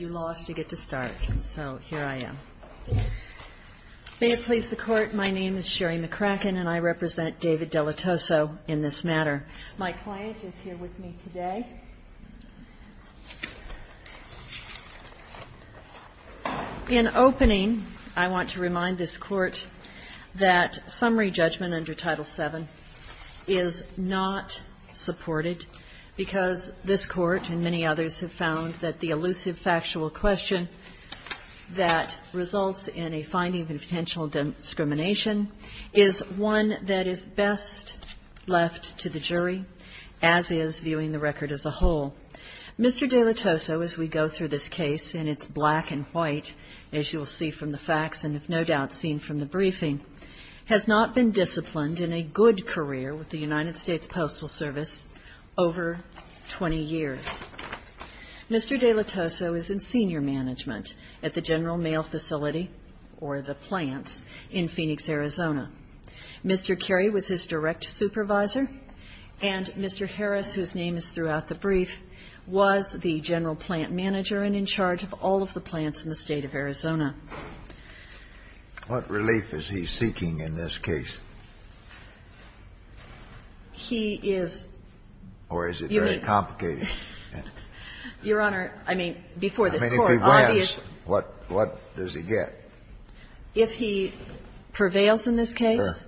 lost, you get to start. So here I am. May it please the Court, my name is Sherry McCracken and I represent David Dellettoso in this matter. My client is here with me today. In opening, I want to remind this Court that summary judgment under Title VII is not supported because this Court and many others have found that the elusive factual question that results in a finding of potential discrimination is one that is best left to the jury, as is viewing the record as a whole. Mr. Dellettoso, as we go through this case in its black and white, as you will see from the facts and if no doubt seen from the briefing, has not been disciplined in a good career with the United States Postal Service over 20 years. Mr. Dellettoso is in senior management at the General Mail Facility, or the plants, in Phoenix, Arizona. Mr. Currie was his direct supervisor and Mr. Harris, whose name is throughout the brief, was the general plant manager and in charge of all of the plants in the state of Arizona. What relief is he seeking in this case? He is... Or is it very complicated? Your Honor, I mean, before this Court... I mean, if he wins, what does he get? If he prevails in this case,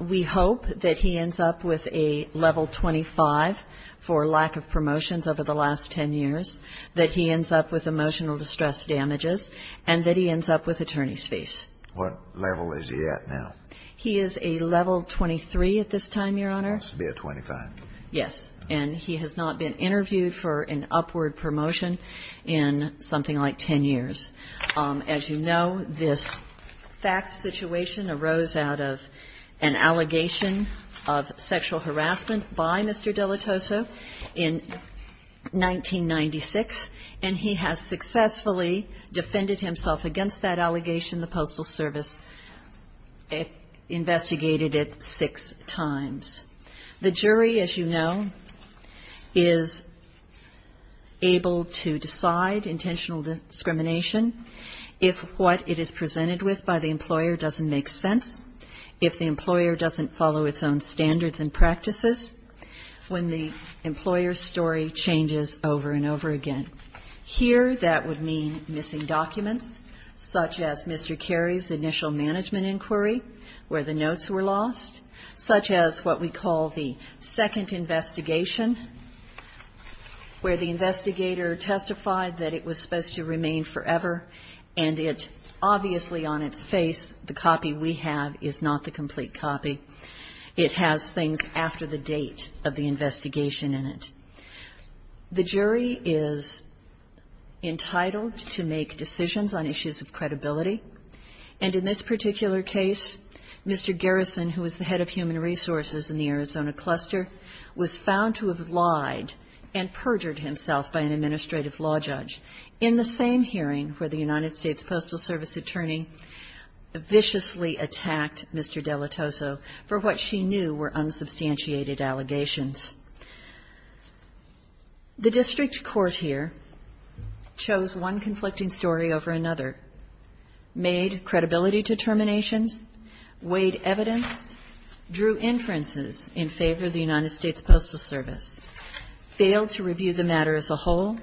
we hope that he ends up with a level 25 for lack of promotions over the last 10 years, that he ends up with emotional distress damages, and that he ends up with attorney's fees. What level is he at now? He is a level 23 at this time, Your Honor. He wants to be a 25. Yes. And he has not been interviewed for an upward promotion in something like 10 years. As you know, this fact situation arose out of an allegation of sexual harassment by Mr. De La Tosa in 1996, and he has successfully defended himself against that allegation. The Postal Service investigated it six times. The jury, as you know, is able to decide, intentional discrimination, if what it is own standards and practices, when the employer's story changes over and over again. Here, that would mean missing documents, such as Mr. Carey's initial management inquiry, where the notes were lost, such as what we call the second investigation, where the investigator testified that it was supposed to remain forever, and it obviously on its face, the copy we have, it has things after the date of the investigation in it. The jury is entitled to make decisions on issues of credibility, and in this particular case, Mr. Garrison, who was the head of human resources in the Arizona cluster, was found to have lied and perjured himself by an administrative law judge in the same hearing where the United States Postal Service knew were unsubstantiated allegations. The district court here chose one conflicting story over another, made credibility determinations, weighed evidence, drew inferences in favor of the United States Postal Service, failed to review the matter as a whole,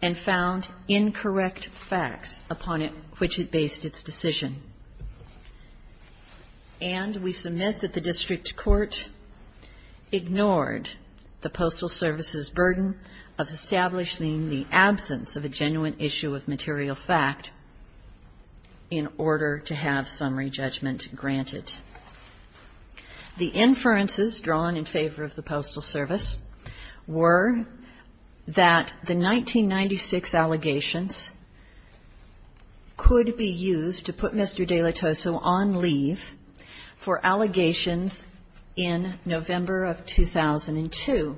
and found incorrect facts upon which it based its decision. And, we submit that the district court ignored the Postal Service's burden of establishing the absence of a genuine issue of material fact in order to have summary judgment granted. The inferences drawn in favor of the Postal Service were that the 1996 allegations could be used to put Mr. De La Tosa on leave for allegations in November of 2002,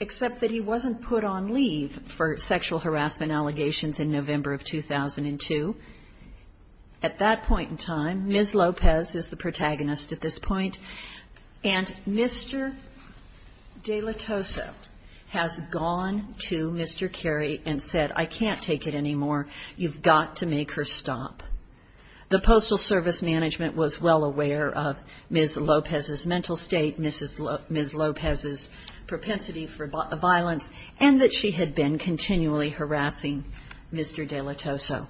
except that he wasn't put on leave for sexual harassment allegations in November of 2002. At that point in time, Ms. Lopez is the protagonist at this point, and Mr. De La Tosa has gone to Mr. Carey and said, I can't take it anymore. You've got to make her stop. The Postal Service management was well aware of Ms. Lopez's mental state, Ms. Lopez's propensity for violence, and that she had been continually harassing Mr. De La Tosa.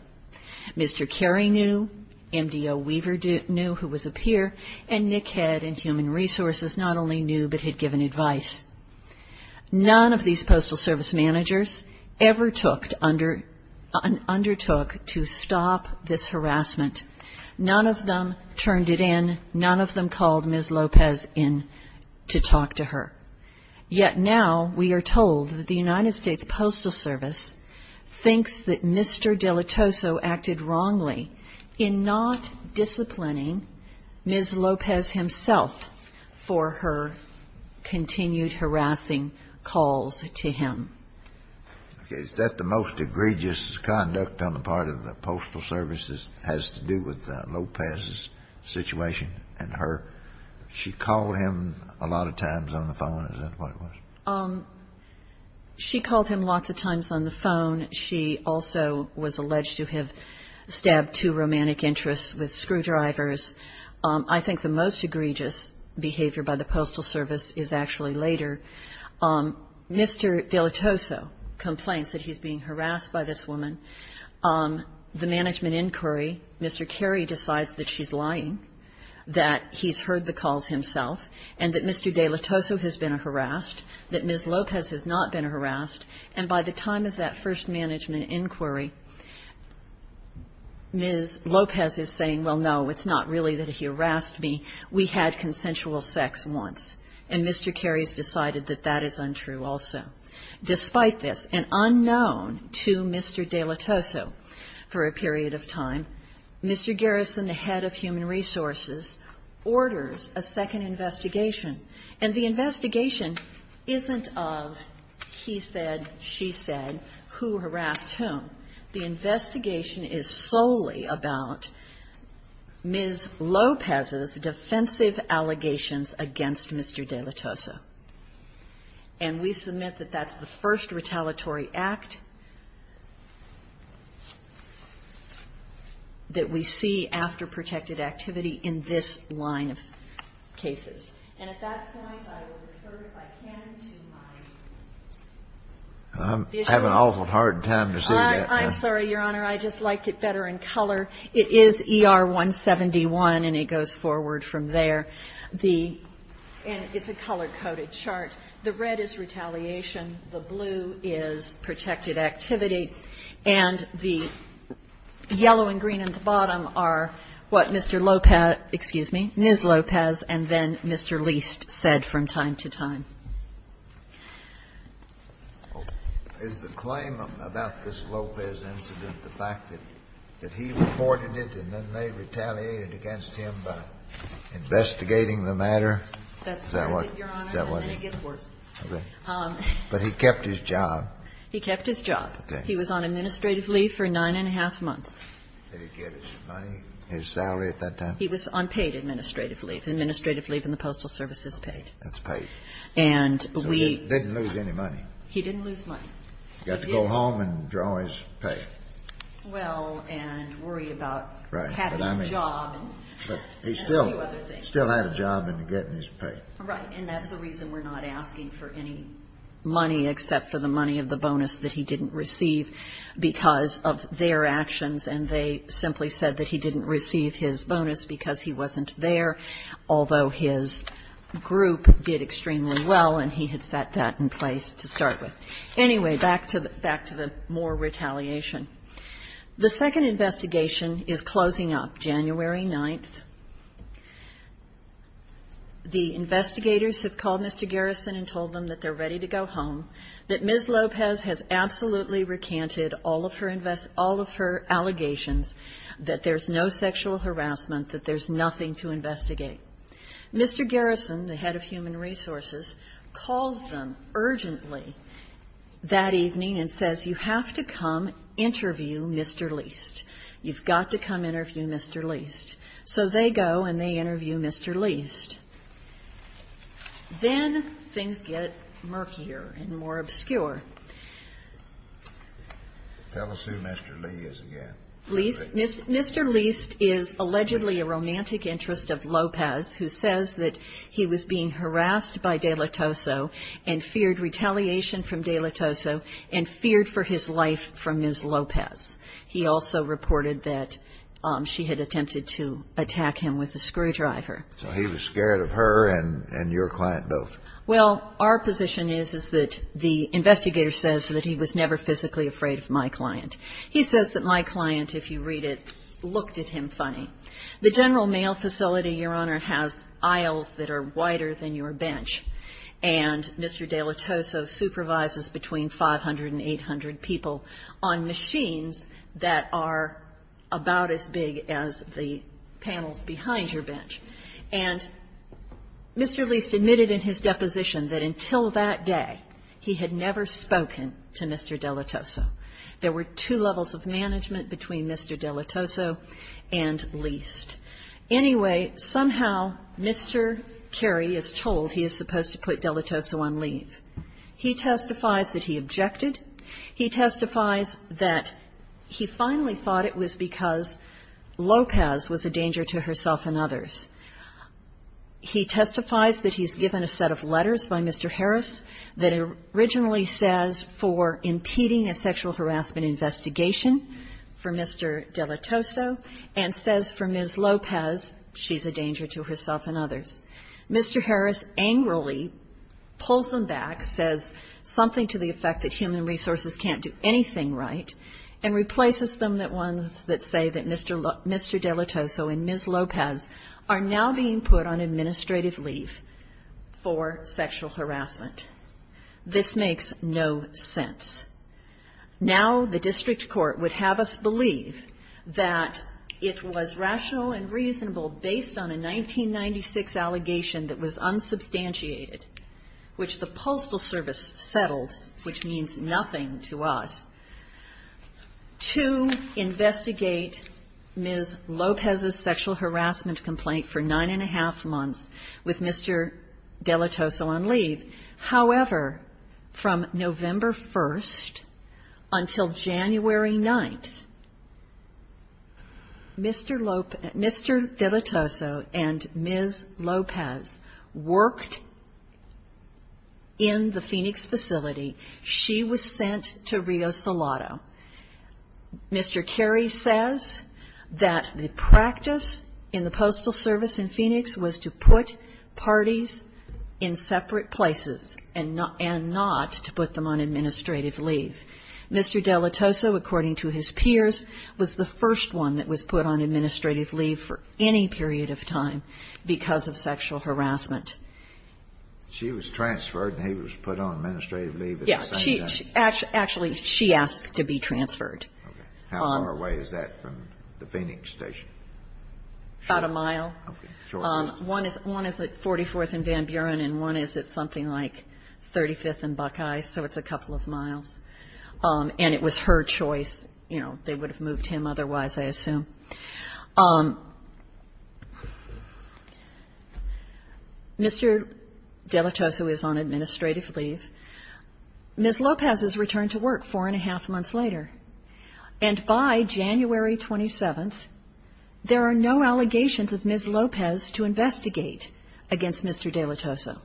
Mr. Carey knew, MDO Weaver knew who was a peer, and NCHED and Human Resources not only knew, but had given advice. None of these Postal Service managers ever undertook to stop this harassment. None of them turned it in. None of them called Ms. Lopez in to talk to her. Yet now we are told that the United States Postal Service thinks that Mr. De La Tosa acted wrongly in not disciplining Ms. Lopez himself for her continued harassing calls to him. Okay. Is that the most egregious conduct on the part of the Postal Service that has to do with Lopez's situation and her? She called him a lot of times on the phone. Is that what it was? She called him lots of times on the phone. She also was alleged to have stabbed two romantic interests with screwdrivers. I think the most egregious behavior by the Postal Service is actually later. Mr. De La Tosa complains that he's being harassed by this woman. The management inquiry, Mr. Carey decides that she's lying, that he's heard the calls himself, and that Mr. De La Tosa has been a harassed, that Ms. Lopez has not been a harassed, and by the time of that first management inquiry, Ms. Lopez is saying, well, no, it's not really that he harassed me. We had consensual sex once. And Mr. Carey has decided that that is untrue also. Despite this, and unknown to Mr. De La Tosa for a period of time, Mr. Garrison, the head of Human Resources, orders a second investigation. And the investigation isn't of, he said, she said, who harassed whom. The investigation is solely about Ms. Lopez's defensive allegations against Mr. De La Tosa. And we submit that that's the first retaliatory act that we see after protected activity in this line of cases. And at that point I will refer, if I can, to Ms. Lopez. I'm having an awful hard time to say that. I'm sorry, Your Honor. I just liked it better in color. It is ER-171, and it goes forward from there. The, and it's a color-coded chart. The red is retaliation. The blue is protected activity. And the yellow and green at the bottom are what Mr. Lopez, excuse me, Ms. Lopez, and then Mr. Leist said from time to time. Is the claim about this Lopez incident, the fact that he reported it and then they retaliated against him by investigating the matter? Is that what, is that what? That's correct, Your Honor, and then it gets worse. Okay. But he kept his job. He kept his job. Okay. He was on administrative leave for nine and a half months. Did he get his money, his salary at that time? He was on paid administrative leave. Administrative leave in the Postal Service is paid. That's paid. And we So he didn't lose any money. He didn't lose money. He got to go home and draw his pay. Well, and worry about having a job. Right. But I mean, he still had a job and getting his pay. Right. And that's the reason we're not asking for any money except for the money of the bonus that he didn't receive because of their actions, and they simply said that he didn't receive his bonus because he wasn't there, although his group did extremely well and he had set that in place to start with. Anyway, back to the more retaliation. The second investigation is closing up, January 9th. The investigators have called Mr. Garrison and told him that they're ready to go home, that Ms. Lopez has absolutely recanted all of her allegations, that there's no second sexual harassment, that there's nothing to investigate. Mr. Garrison, the head of Human Resources, calls them urgently that evening and says, you have to come interview Mr. Leist. You've got to come interview Mr. Leist. So they go and they interview Mr. Leist. Then things get murkier and more obscure. Tell us who Mr. Leist is again. Mr. Leist is allegedly a romantic interest of Lopez who says that he was being harassed by De La Tosso and feared retaliation from De La Tosso and feared for his life from Ms. Lopez. He also reported that she had attempted to attack him with a screwdriver. So he was scared of her and your client both? Well, our position is, is that the investigator says that he was never physically afraid of my client. He says that my client, if you read it, looked at him funny. The general mail facility, Your Honor, has aisles that are wider than your bench, and Mr. De La Tosso supervises between 500 and 800 people on machines that are about as big as the panels behind your bench. And Mr. Leist admitted in his deposition that until that day he had never spoken to Mr. De La Tosso. There were two levels of management between Mr. De La Tosso and Leist. Anyway, somehow Mr. Carey is told he is supposed to put De La Tosso on leave. He testifies that he objected. He testifies that he finally thought it was because Lopez was a danger to herself and others. He testifies that he's given a set of letters by Mr. Harris that originally says for impeding a sexual harassment investigation for Mr. De La Tosso, and says for Ms. Lopez she's a danger to herself and others. Mr. Harris angrily pulls them back, says something to the effect that human resources can't do anything right, and replaces them with ones that say that Mr. De La Tosso and Ms. Lopez are now being put on administrative leave for sexual harassment. This makes no sense. Now the district court would have us believe that it was rational and reasonable, based on a 1996 allegation that was unsubstantiated, which the Postal Service settled, which means nothing to us, to investigate Ms. Lopez's sexual harassment complaint for nine-and-a-half months with Mr. De La Tosso on leave. However, from November 1st until January 9th, Mr. De La Tosso and Ms. Lopez worked in the Phoenix facility. She was sent to Rio Salado. Mr. Carey says that the practice in the Postal Service in Phoenix was to put parties in separate places and not to put them on administrative leave. Mr. De La Tosso, according to his peers, was the first one that was put on administrative leave for any period of time because of sexual harassment. She was transferred and he was put on administrative leave at the same time? Yes. Actually, she asked to be transferred. How far away is that from the Phoenix station? About a mile. One is at 44th and Van Buren, and one is at something like 35th and Buckeye, so it's a couple of miles, and it was her choice. You know, they would have moved him otherwise, I assume. Mr. De La Tosso is on administrative leave. Ms. Lopez is returned to work four-and-a-half months later, and by January 27th there are no allegations of Ms. Lopez to investigate against Mr. De La Tosso.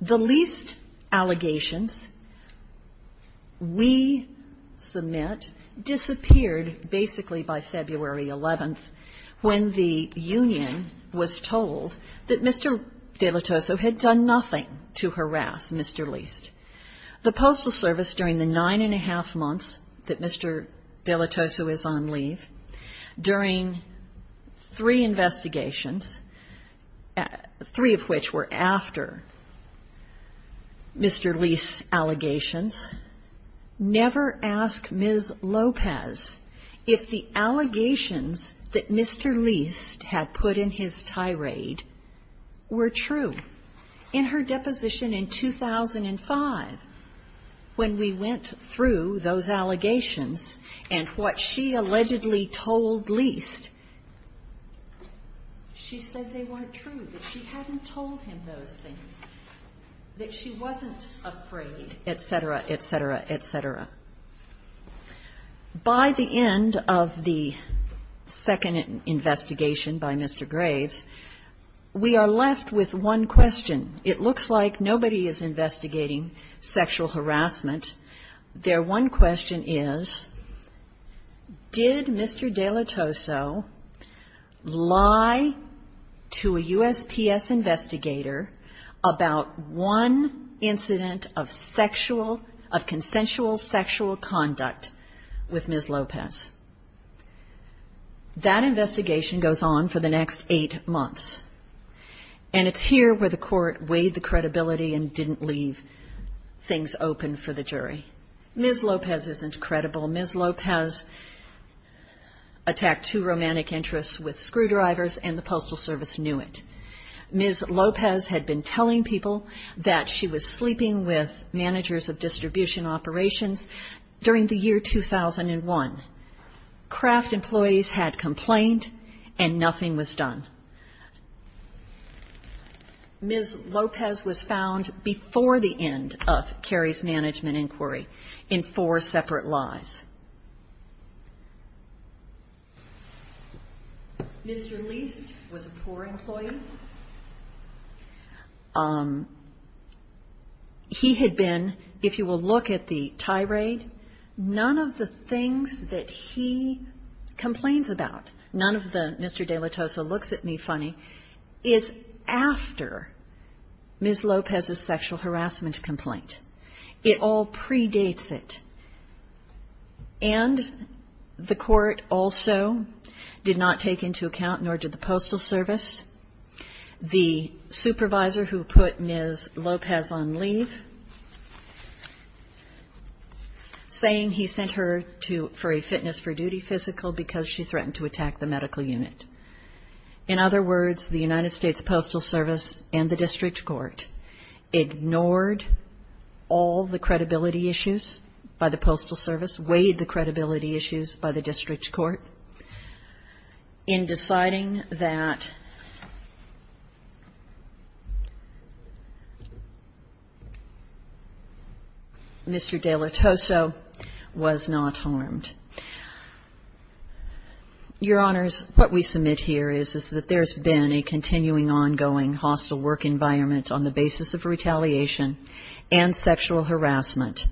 The least allegations we submit disappeared basically by February 11th, when the union was told that Mr. De La Tosso had done nothing to harass Mr. Least. The Postal Service, during the nine-and-a-half months that Mr. De La Tosso is on leave, during three investigations, three of which were after Mr. Least's allegations, never asked Ms. Lopez if the allegations that Mr. Least had put in his tirade were true. In her deposition in 2005, when we went through those allegations and what she allegedly told Least, she said they weren't true, that she hadn't told him those things, that she wasn't afraid, et cetera, et cetera, et cetera. By the end of the second investigation by Mr. Graves, we are left with one question. It looks like nobody is investigating sexual harassment. Their one question is, did Mr. De La Tosso lie to a USPS investigator about one incident of sexual of consensual sexual conduct with Ms. Lopez? That investigation goes on for the next eight months. And it's here where the court weighed the credibility and didn't leave things open for the jury. Ms. Lopez isn't credible. Ms. Lopez attacked two romantic interests with screwdrivers, and the Postal Service knew it. Ms. Lopez had been telling people that she was sleeping with managers of distribution operations during the year 2001. Kraft employees had complained, and nothing was done. Ms. Lopez was found before the end of Carey's management inquiry in four separate lies. Mr. Leist was a poor employee. He had been, if you will look at the tirade, none of the things that he complains about, none of the Mr. De La Tosso looks at me funny, is after Ms. Lopez's sexual harassment complaint. It all predates it. And the court also did not take into account nor did the Postal Service the supervisor who put Ms. Lopez on leave, saying he sent her for a fitness for duty physical because she threatened to attack the medical unit. In other words, the United States Postal Service and the district court ignored all the credibility issues by the Postal Service, weighed the credibility issues by the district court in deciding that Mr. De La Tosso was not harmed. Your Honors, what we submit here is that there's been a continuing ongoing hostile work environment on the basis of retaliation and sexual harassment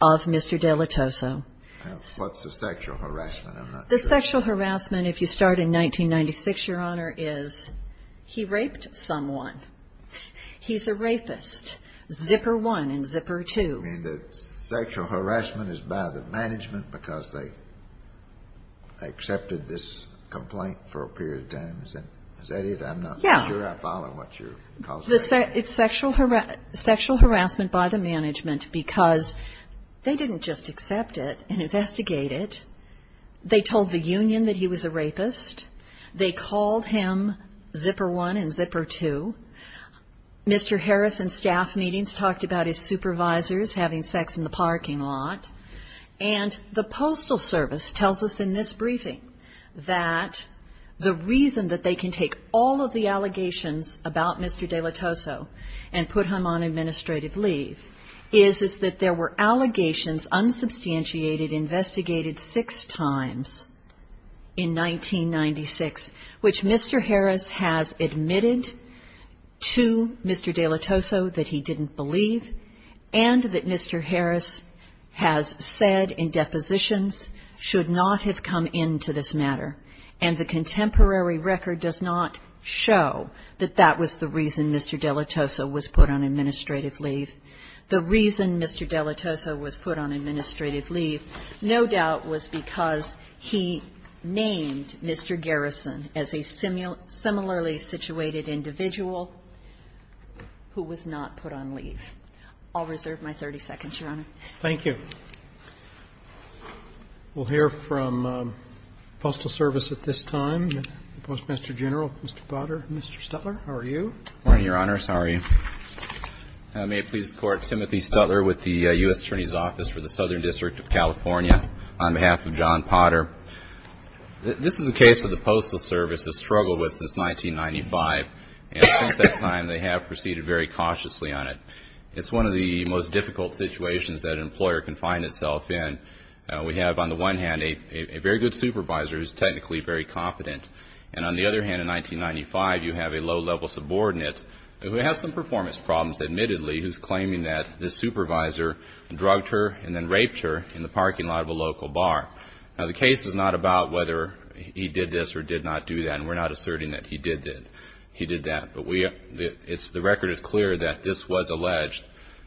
of Mr. De La Tosso. What's the sexual harassment? I'm not sure. The sexual harassment, if you start in 1996, Your Honor, is he raped someone. He's a rapist, zipper one and zipper two. You mean the sexual harassment is by the management because they accepted this complaint for a period of time? Is that it? I'm not sure I follow what you're calling it. It's sexual harassment by the management because they didn't just accept it and investigate it. They told the union that he was a rapist. They called him zipper one and zipper two. Mr. Harrison's staff meetings talked about his supervisors having sex in the parking lot. And the Postal Service tells us in this briefing that the reason that they can take all of the allegations about Mr. De La Tosso and put him on administrative leave is that there were allegations unsubstantiated investigated six times in 1996, which Mr. Harris has admitted to Mr. De La Tosso that he didn't believe and that Mr. Harris has said in depositions should not have come into this matter. And the contemporary record does not show that that was the reason Mr. De La Tosso was put on administrative leave. The reason Mr. De La Tosso was put on administrative leave, no doubt, was because he named Mr. Garrison as a similarly situated individual who was not put on leave. I'll reserve my 30 seconds, Your Honor. Thank you. We'll hear from Postal Service at this time. The Postmaster General, Mr. Potter. Mr. Stutler, how are you? Good morning, Your Honors. How are you? May it please the Court, Timothy Stutler with the U.S. Attorney's Office for the Southern District of California on behalf of John Potter. This is a case that the Postal Service has struggled with since 1995. And since that time, they have proceeded very cautiously on it. It's one of the most difficult situations that an employer can find itself in. We have, on the one hand, a very good supervisor who's technically very competent. And on the other hand, in 1995, you have a low-level subordinate who has some performance problems, admittedly, who's claiming that this supervisor drugged her and then raped her in the parking lot of a local bar. Now, the case is not about whether he did this or did not do that, and we're not asserting that he did that. But the record is clear that this was alleged.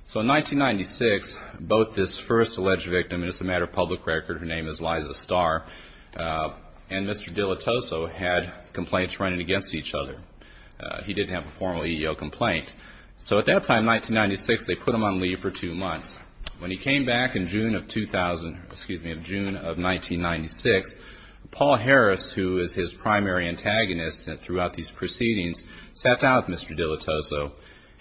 So in 1996, both this first alleged victim, and this is a matter of public record, her name is Liza Starr, and Mr. Dilatoso had complaints running against each other. He didn't have a formal EEO complaint. So at that time, 1996, they put him on leave for two months. When he came back in June of 2000, excuse me, in June of 1996, Paul Harris, who is his primary antagonist throughout these proceedings, sat down with Mr. Dilatoso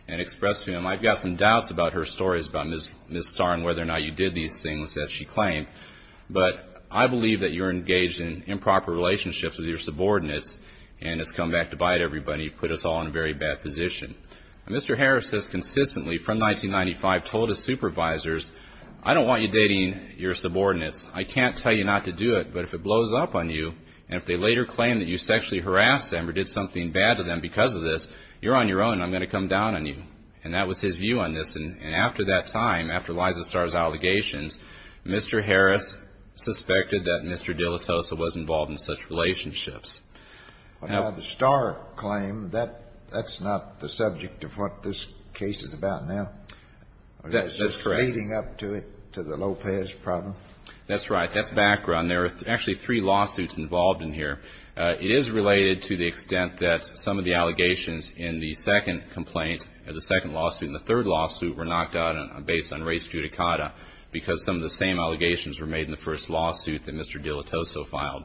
and expressed to him, I've got some doubts about her stories about Ms. Starr and whether or not you did these things that she claimed, but I believe that you're engaged in improper relationships with your subordinates and it's come back to bite everybody, put us all in a very bad position. Mr. Harris has consistently, from 1995, told his supervisors, I don't want you dating your subordinates. I can't tell you not to do it, but if it blows up on you, and if they later claim that you sexually harassed them or did something bad to them because of this, you're on your own and I'm going to come down on you. And that was his view on this. And after that time, after Liza Starr's allegations, Mr. Harris suspected that Mr. Dilatoso was involved in such relationships. Now, the Starr claim, that's not the subject of what this case is about now. That's correct. It's leading up to it, to the Lopez problem. That's right. That's background. There are actually three lawsuits involved in here. It is related to the extent that some of the allegations in the second complaint, the second lawsuit and the third lawsuit were knocked out based on race judicata because some of the same allegations were made in the first lawsuit that Mr. Dilatoso filed.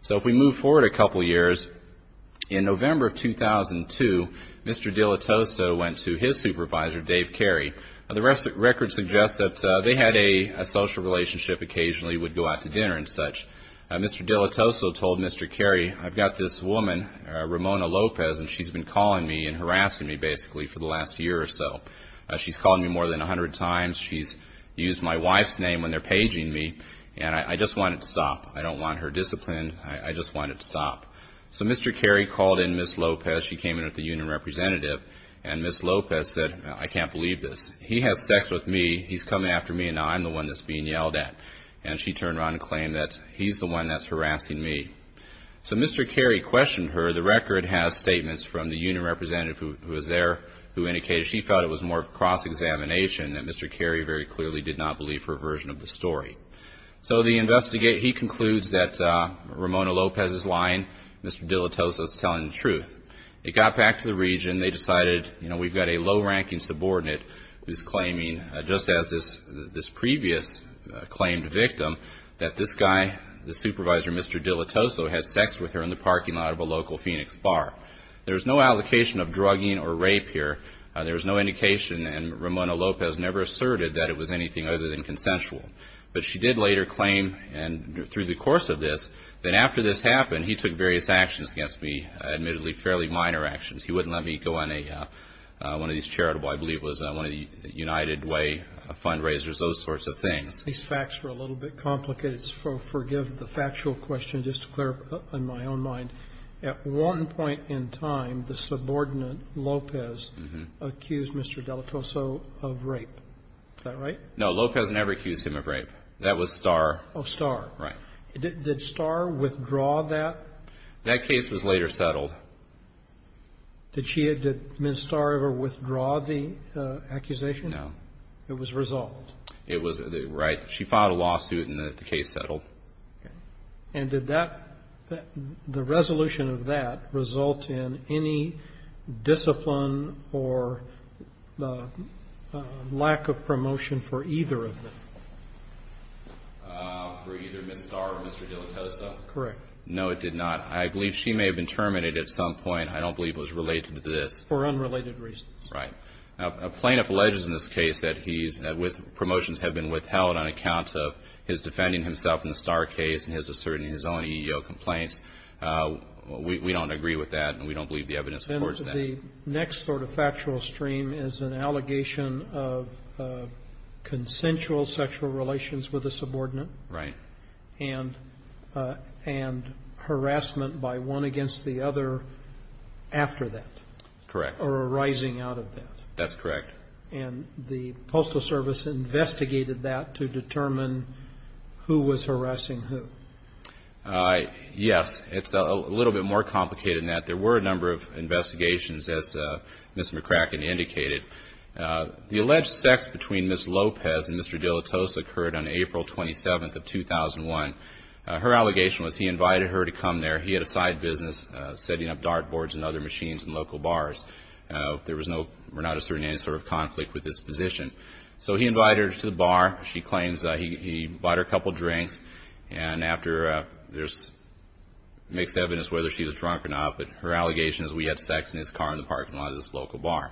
So if we move forward a couple years, in November of 2002, Mr. Dilatoso went to his supervisor, Dave Carey. The record suggests that they had a social relationship, occasionally would go out to dinner and such. Mr. Dilatoso told Mr. Carey, I've got this woman, Ramona Lopez, and she's been calling me and harassing me basically for the last year or so. She's called me more than 100 times. She's used my wife's name when they're paging me, and I just want it to stop. I don't want her disciplined. I just want it to stop. So Mr. Carey called in Ms. Lopez. She came in with the union representative, and Ms. Lopez said, I can't believe this. He has sex with me. He's coming after me, and now I'm the one that's being yelled at. And she turned around and claimed that he's the one that's harassing me. So Mr. Carey questioned her. The record has statements from the union representative who was there who indicated she felt it was more of a cross-examination, that Mr. Carey very clearly did not believe her version of the story. So he concludes that Ramona Lopez is lying. Mr. Dilitoso is telling the truth. They got back to the region. They decided, you know, we've got a low-ranking subordinate who's claiming, just as this previous claimed victim, that this guy, the supervisor, Mr. Dilitoso, has sex with her in the parking lot of a local Phoenix bar. There's no allocation of drugging or rape here. There was no indication, and Ramona Lopez never asserted that it was anything other than consensual. But she did later claim, and through the course of this, that after this happened, he took various actions against me, admittedly fairly minor actions. He wouldn't let me go on one of these charitable, I believe it was, one of the United Way fundraisers, those sorts of things. These facts are a little bit complicated, so forgive the factual question. Let me just clear up on my own mind. At one point in time, the subordinate, Lopez, accused Mr. Dilitoso of rape. Is that right? No, Lopez never accused him of rape. That was Starr. Oh, Starr. Right. Did Starr withdraw that? That case was later settled. Did Ms. Starr ever withdraw the accusation? No. It was resolved? It was, right. She filed a lawsuit, and the case settled. Okay. And did that, the resolution of that result in any discipline or lack of promotion for either of them? For either Ms. Starr or Mr. Dilitoso? Correct. No, it did not. I believe she may have been terminated at some point. I don't believe it was related to this. For unrelated reasons. Right. A plaintiff alleges in this case that he's, that promotions have been withheld on account of his defending himself in the Starr case and his asserting his own EEO complaints. We don't agree with that, and we don't believe the evidence supports that. The next sort of factual stream is an allegation of consensual sexual relations with a subordinate. Right. And harassment by one against the other after that. Correct. Or arising out of that. That's correct. And the Postal Service investigated that to determine who was harassing who. Yes. It's a little bit more complicated than that. There were a number of investigations, as Ms. McCracken indicated. The alleged sex between Ms. Lopez and Mr. Dilitoso occurred on April 27th of 2001. Her allegation was he invited her to come there. He had a side business setting up dart boards and other machines in local bars. There was no, we're not asserting any sort of conflict with this position. So he invited her to the bar. She claims he bought her a couple drinks. And after there's mixed evidence whether she was drunk or not, but her allegation is we had sex in his car in the parking lot of this local bar.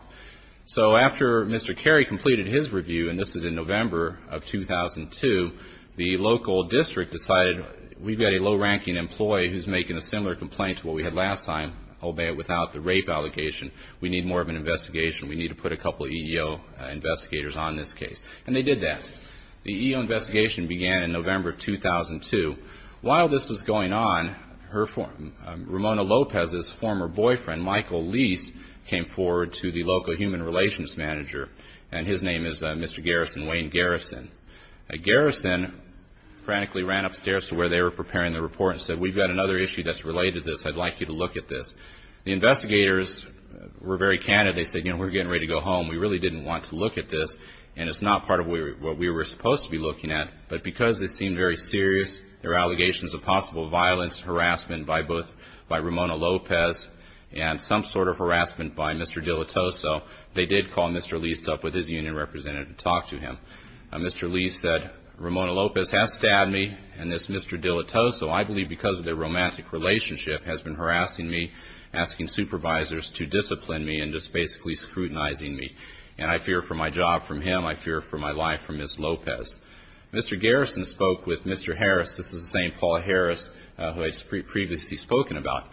So after Mr. Carey completed his review, and this is in November of 2002, the local district decided we've got a low-ranking employee who's making a similar complaint to what we had last time, albeit without the rape allegation. We need more of an investigation. We need to put a couple of EEO investigators on this case. And they did that. The EEO investigation began in November of 2002. While this was going on, Ramona Lopez's former boyfriend, Michael Lease, came forward to the local human relations manager, and his name is Mr. Garrison, Wayne Garrison. Garrison frantically ran upstairs to where they were preparing the report and said, we've got another issue that's related to this. I'd like you to look at this. The investigators were very candid. They said, you know, we're getting ready to go home. We really didn't want to look at this, and it's not part of what we were supposed to be looking at. But because this seemed very serious, there were allegations of possible violence, harassment by Ramona Lopez, and some sort of harassment by Mr. Dilettoso, they did call Mr. Lease up with his union representative to talk to him. Mr. Lease said, Ramona Lopez has stabbed me, and this Mr. Dilettoso, I believe because of their romantic relationship, has been harassing me, asking supervisors to discipline me and just basically scrutinizing me. And I fear for my job from him. I fear for my life from Ms. Lopez. Mr. Garrison spoke with Mr. Harris. This is the same Paul Harris who I had previously spoken about.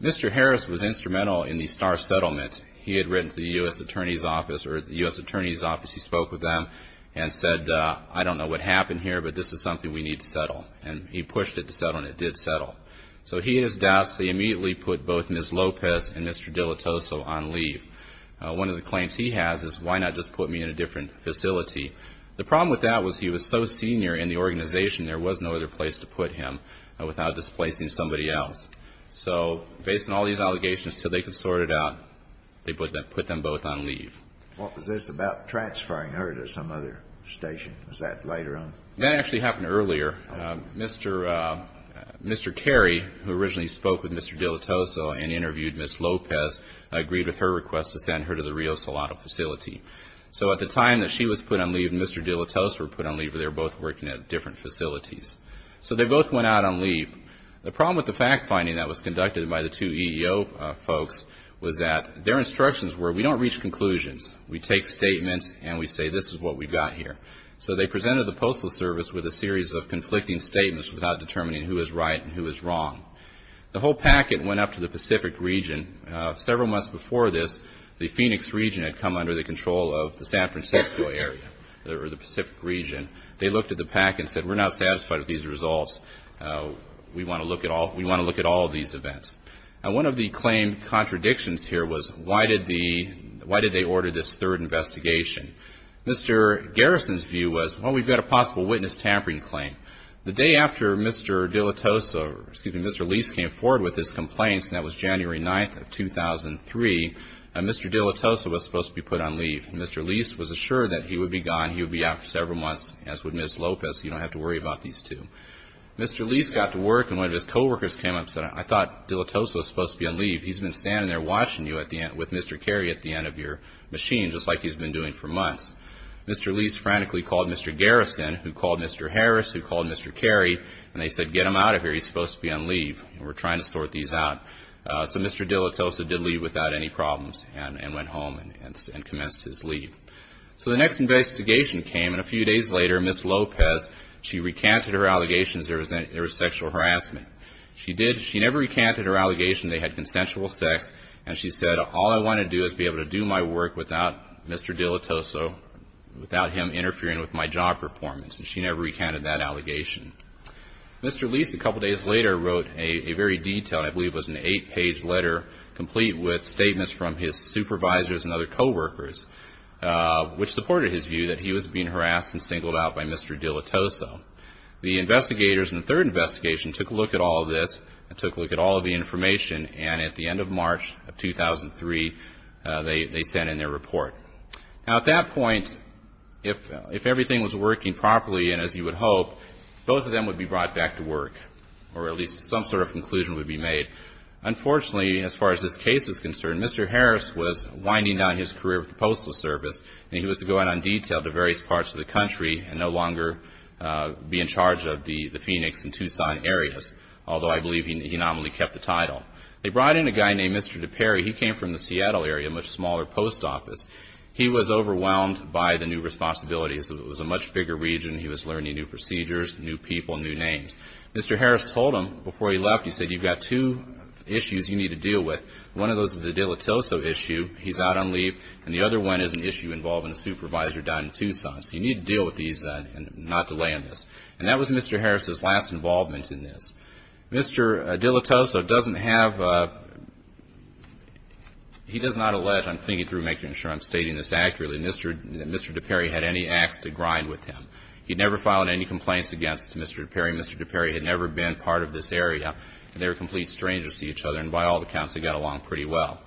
Mr. Harris was instrumental in the Starr settlement. He had written to the U.S. Attorney's Office, or the U.S. Attorney's Office, he spoke with them and said, I don't know what happened here, but this is something we need to settle. And he pushed it to settle, and it did settle. So he and his dossier immediately put both Ms. Lopez and Mr. Dilettoso on leave. One of the claims he has is, why not just put me in a different facility? The problem with that was he was so senior in the organization, there was no other place to put him without displacing somebody else. So based on all these allegations, until they could sort it out, they put them both on leave. What was this about transferring her to some other station? Was that later on? That actually happened earlier. Mr. Carey, who originally spoke with Mr. Dilettoso and interviewed Ms. Lopez, agreed with her request to send her to the Rio Salado facility. So at the time that she was put on leave and Mr. Dilettoso were put on leave, they were both working at different facilities. So they both went out on leave. The problem with the fact finding that was conducted by the two EEO folks was that their instructions were, we don't reach conclusions. We take statements and we say, this is what we've got here. So they presented the Postal Service with a series of conflicting statements without determining who is right and who is wrong. The whole packet went up to the Pacific region. Several months before this, the Phoenix region had come under the control of the San Francisco area, or the Pacific region. They looked at the packet and said, we're not satisfied with these results. We want to look at all of these events. And one of the claimed contradictions here was, why did they order this third investigation? Mr. Garrison's view was, well, we've got a possible witness tampering claim. The day after Mr. Dilettoso, excuse me, Mr. Lease came forward with his complaints, and that was January 9th of 2003, Mr. Dilettoso was supposed to be put on leave. Mr. Lease was assured that he would be gone. He would be out for several months, as would Ms. Lopez. You don't have to worry about these two. Mr. Lease got to work, and one of his coworkers came up and said, I thought Dilettoso was supposed to be on leave. He's been standing there watching you with Mr. Carey at the end of your machine, just like he's been doing for months. Mr. Lease frantically called Mr. Garrison, who called Mr. Harris, who called Mr. Carey, and they said, get him out of here. He's supposed to be on leave, and we're trying to sort these out. So Mr. Dilettoso did leave without any problems and went home and commenced his leave. So the next investigation came, and a few days later, Ms. Lopez, she recanted her allegations there was sexual harassment. She never recanted her allegation they had consensual sex, and she said, all I want to do is be able to do my work without Mr. Dilettoso, without him interfering with my job performance, and she never recanted that allegation. Mr. Lease, a couple days later, wrote a very detailed, I believe it was an eight-page letter, complete with statements from his supervisors and other coworkers, which supported his view that he was being harassed and singled out by Mr. Dilettoso. The investigators in the third investigation took a look at all of this and took a look at all of the information, and at the end of March of 2003, they sent in their report. Now, at that point, if everything was working properly, and as you would hope, both of them would be brought back to work, or at least some sort of conclusion would be made. Unfortunately, as far as this case is concerned, Mr. Harris was winding down his career with the Postal Service, and he was to go in on detail to various parts of the country and no longer be in charge of the Phoenix and Tucson areas, although I believe he nominally kept the title. They brought in a guy named Mr. DePerry. He came from the Seattle area, a much smaller post office. He was overwhelmed by the new responsibilities. It was a much bigger region. He was learning new procedures, new people, new names. Mr. Harris told them before he left, he said, you've got two issues you need to deal with. One of those is the Dilettoso issue. He's out on leave. And the other one is an issue involving a supervisor down in Tucson. So you need to deal with these and not delay on this. And that was Mr. Harris's last involvement in this. Mr. Dilettoso doesn't have a, he does not allege, I'm thinking through making sure I'm stating this accurately, that Mr. DePerry had any acts to grind with him. He'd never filed any complaints against Mr. DePerry. Mr. DePerry had never been part of this area. They were complete strangers to each other, and by all accounts, they got along pretty well.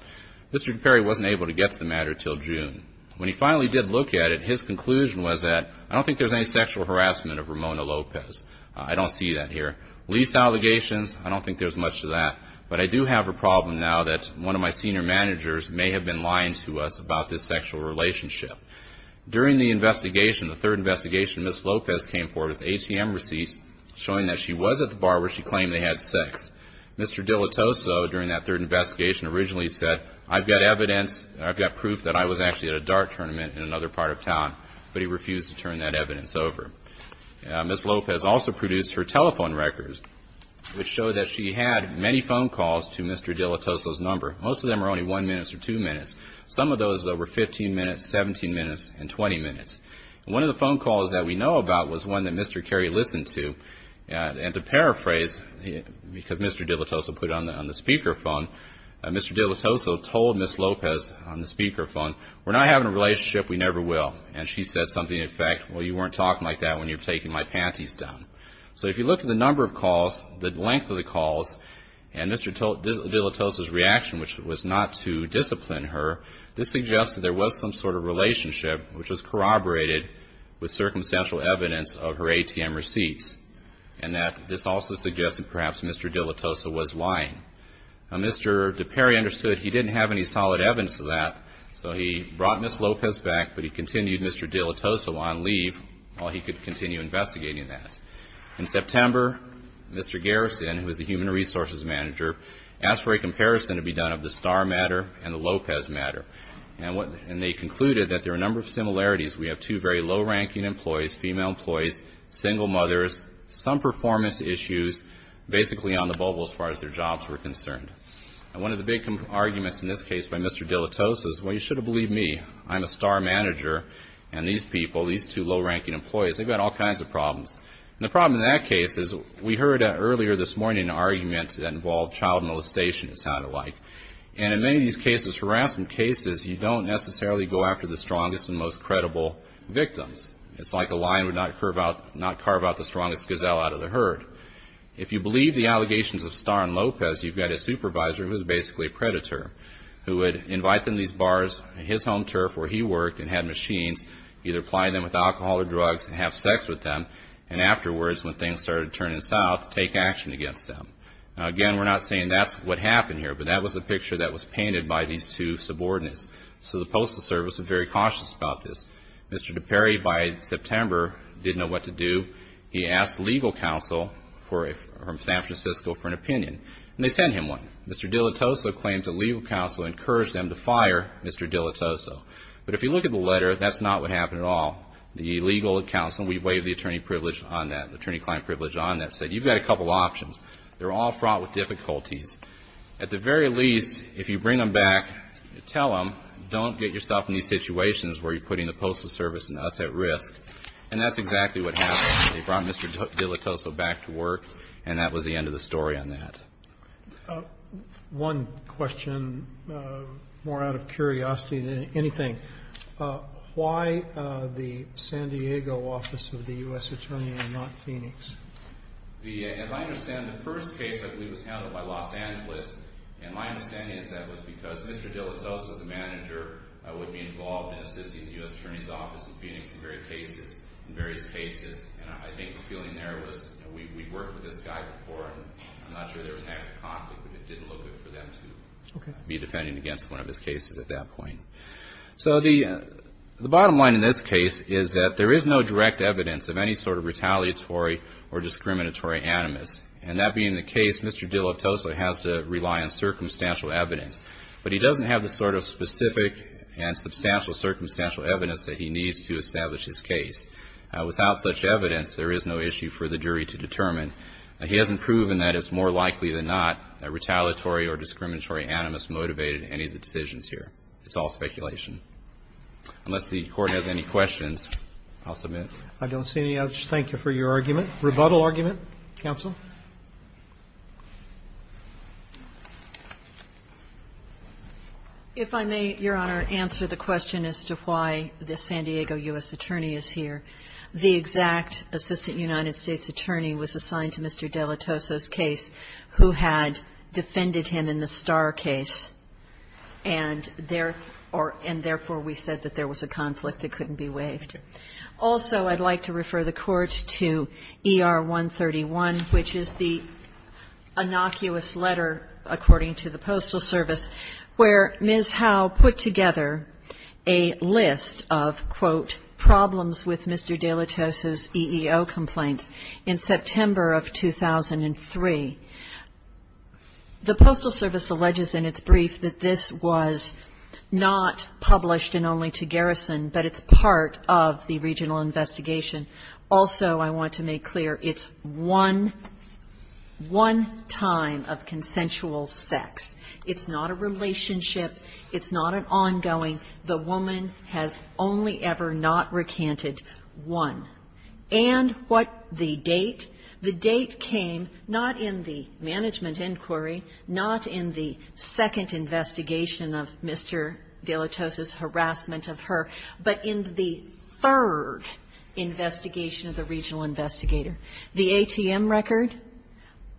Mr. DePerry wasn't able to get to the matter until June. When he finally did look at it, his conclusion was that, I don't think there's any sexual harassment of Ramona Lopez. I don't see that here. Lease allegations, I don't think there's much of that. But I do have a problem now that one of my senior managers may have been lying to us about this sexual relationship. During the investigation, the third investigation, Ms. Lopez came forward with ATM receipts showing that she was at the bar where she claimed they had sex. Mr. Dilettoso, during that third investigation, originally said, I've got evidence, I've got proof that I was actually at a dart tournament in another part of town. But he refused to turn that evidence over. Ms. Lopez also produced her telephone records, which showed that she had many phone calls to Mr. Dilettoso's number. Most of them were only one minute or two minutes. Some of those were 15 minutes, 17 minutes, and 20 minutes. One of the phone calls that we know about was one that Mr. Cary listened to. And to paraphrase, because Mr. Dilettoso put it on the speakerphone, Mr. Dilettoso told Ms. Lopez on the speakerphone, we're not having a relationship, we never will. And she said something in effect, well, you weren't talking like that when you were taking my panties down. So if you look at the number of calls, the length of the calls, and Mr. Dilettoso's reaction, which was not to discipline her, this suggests that there was some sort of relationship, which was corroborated with circumstantial evidence of her ATM receipts, and that this also suggests that perhaps Mr. Dilettoso was lying. Now, Mr. DePerry understood he didn't have any solid evidence of that, so he brought Ms. Lopez back, but he continued Mr. Dilettoso on leave while he could continue investigating that. In September, Mr. Garrison, who was the human resources manager, asked for a comparison to be done of the Starr matter and the Lopez matter. And they concluded that there were a number of similarities. We have two very low-ranking employees, female employees, single mothers, some performance issues basically on the bubble as far as their jobs were concerned. And one of the big arguments in this case by Mr. Dilettoso is, well, you should have believed me. I'm a Starr manager, and these people, these two low-ranking employees, they've got all kinds of problems. And the problem in that case is we heard earlier this morning an argument that involved child molestation, it sounded like, and in many of these cases, harassment cases, you don't necessarily go after the strongest and most credible victims. It's like a lion would not carve out the strongest gazelle out of the herd. If you believe the allegations of Starr and Lopez, you've got a supervisor who is basically a predator who would invite them to these bars, his home turf where he worked and had machines, either apply them with alcohol or drugs and have sex with them, and afterwards when things started turning south, take action against them. Now, again, we're not saying that's what happened here, but that was a picture that was painted by these two subordinates. So the Postal Service was very cautious about this. Mr. DiPeri, by September, didn't know what to do. He asked legal counsel from San Francisco for an opinion, and they sent him one. Mr. Dilitoso claims that legal counsel encouraged them to fire Mr. Dilitoso. But if you look at the letter, that's not what happened at all. The legal counsel, we waived the attorney privilege on that, the attorney-client privilege on that, said you've got a couple options. They're all fraught with difficulties. At the very least, if you bring them back, tell them don't get yourself in these situations where you're putting the Postal Service and us at risk. And that's exactly what happened. They brought Mr. Dilitoso back to work, and that was the end of the story on that. One question, more out of curiosity than anything. Why the San Diego office of the U.S. Attorney and not Phoenix? As I understand it, the first case I believe was handled by Los Angeles, and my understanding is that was because Mr. Dilitoso's manager would be involved in assisting the U.S. Attorney's Office in Phoenix in various cases. And I think the feeling there was we worked with this guy before, and I'm not sure there was an actual conflict, but it didn't look good for them to be defending against one of his cases at that point. So the bottom line in this case is that there is no direct evidence of any sort of retaliatory or discriminatory animus. And that being the case, Mr. Dilitoso has to rely on circumstantial evidence. But he doesn't have the sort of specific and substantial circumstantial evidence that he needs to establish his case. Without such evidence, there is no issue for the jury to determine. He hasn't proven that it's more likely than not that retaliatory or discriminatory animus motivated any of the decisions here. It's all speculation. Unless the Court has any questions, I'll submit. I don't see any. Thank you very much. Thank you for your argument. Rebuttal argument, counsel. If I may, Your Honor, answer the question as to why the San Diego U.S. Attorney is here. The exact Assistant United States Attorney was assigned to Mr. Dilitoso's case who had defended him in the Starr case, and therefore we said that there was a conflict that couldn't be waived. Also, I'd like to refer the Court to ER 131, which is the innocuous letter, according to the Postal Service, where Ms. Howe put together a list of, quote, problems with Mr. Dilitoso's EEO complaints in September of 2003. The Postal Service alleges in its brief that this was not published and only to Garrison, but it's part of the regional investigation. Also, I want to make clear, it's one time of consensual sex. It's not a relationship. It's not an ongoing. The woman has only ever not recanted one. And what the date? The date came not in the management inquiry, not in the second investigation of Mr. Dilitoso's harassment of her, but in the third investigation of the regional investigator. The ATM record,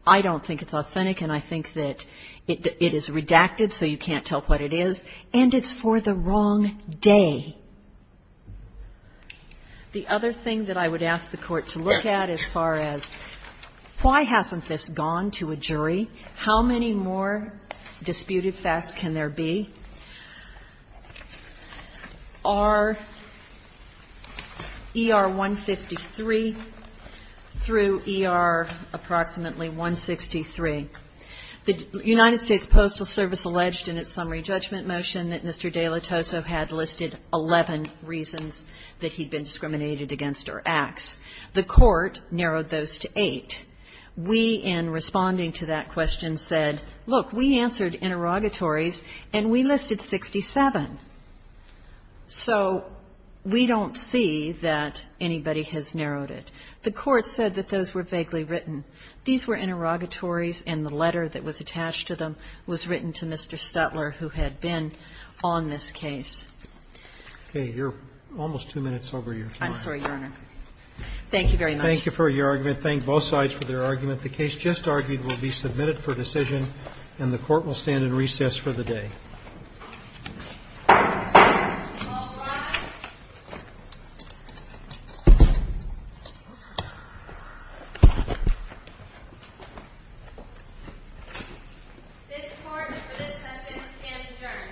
I don't think it's authentic, and I think that it is redacted, so you can't tell what it is. And it's for the wrong day. The other thing that I would ask the Court to look at as far as why hasn't this been looked at, and why can there be, are ER-153 through ER-approximately 163. The United States Postal Service alleged in its summary judgment motion that Mr. Dilitoso had listed 11 reasons that he'd been discriminated against or axed. The Court narrowed those to eight. We, in responding to that question, said, look, we answered interrogatories and we listed 67. So we don't see that anybody has narrowed it. The Court said that those were vaguely written. These were interrogatories and the letter that was attached to them was written to Mr. Stutler, who had been on this case. Okay. You're almost two minutes over your time. I'm sorry, Your Honor. Thank you very much. Thank you for your argument. I thank both sides for their argument. The case just argued will be submitted for decision, and the Court will stand in recess for the day. All rise. This Court has decided that this case is adjourned. Thank you. Thank you.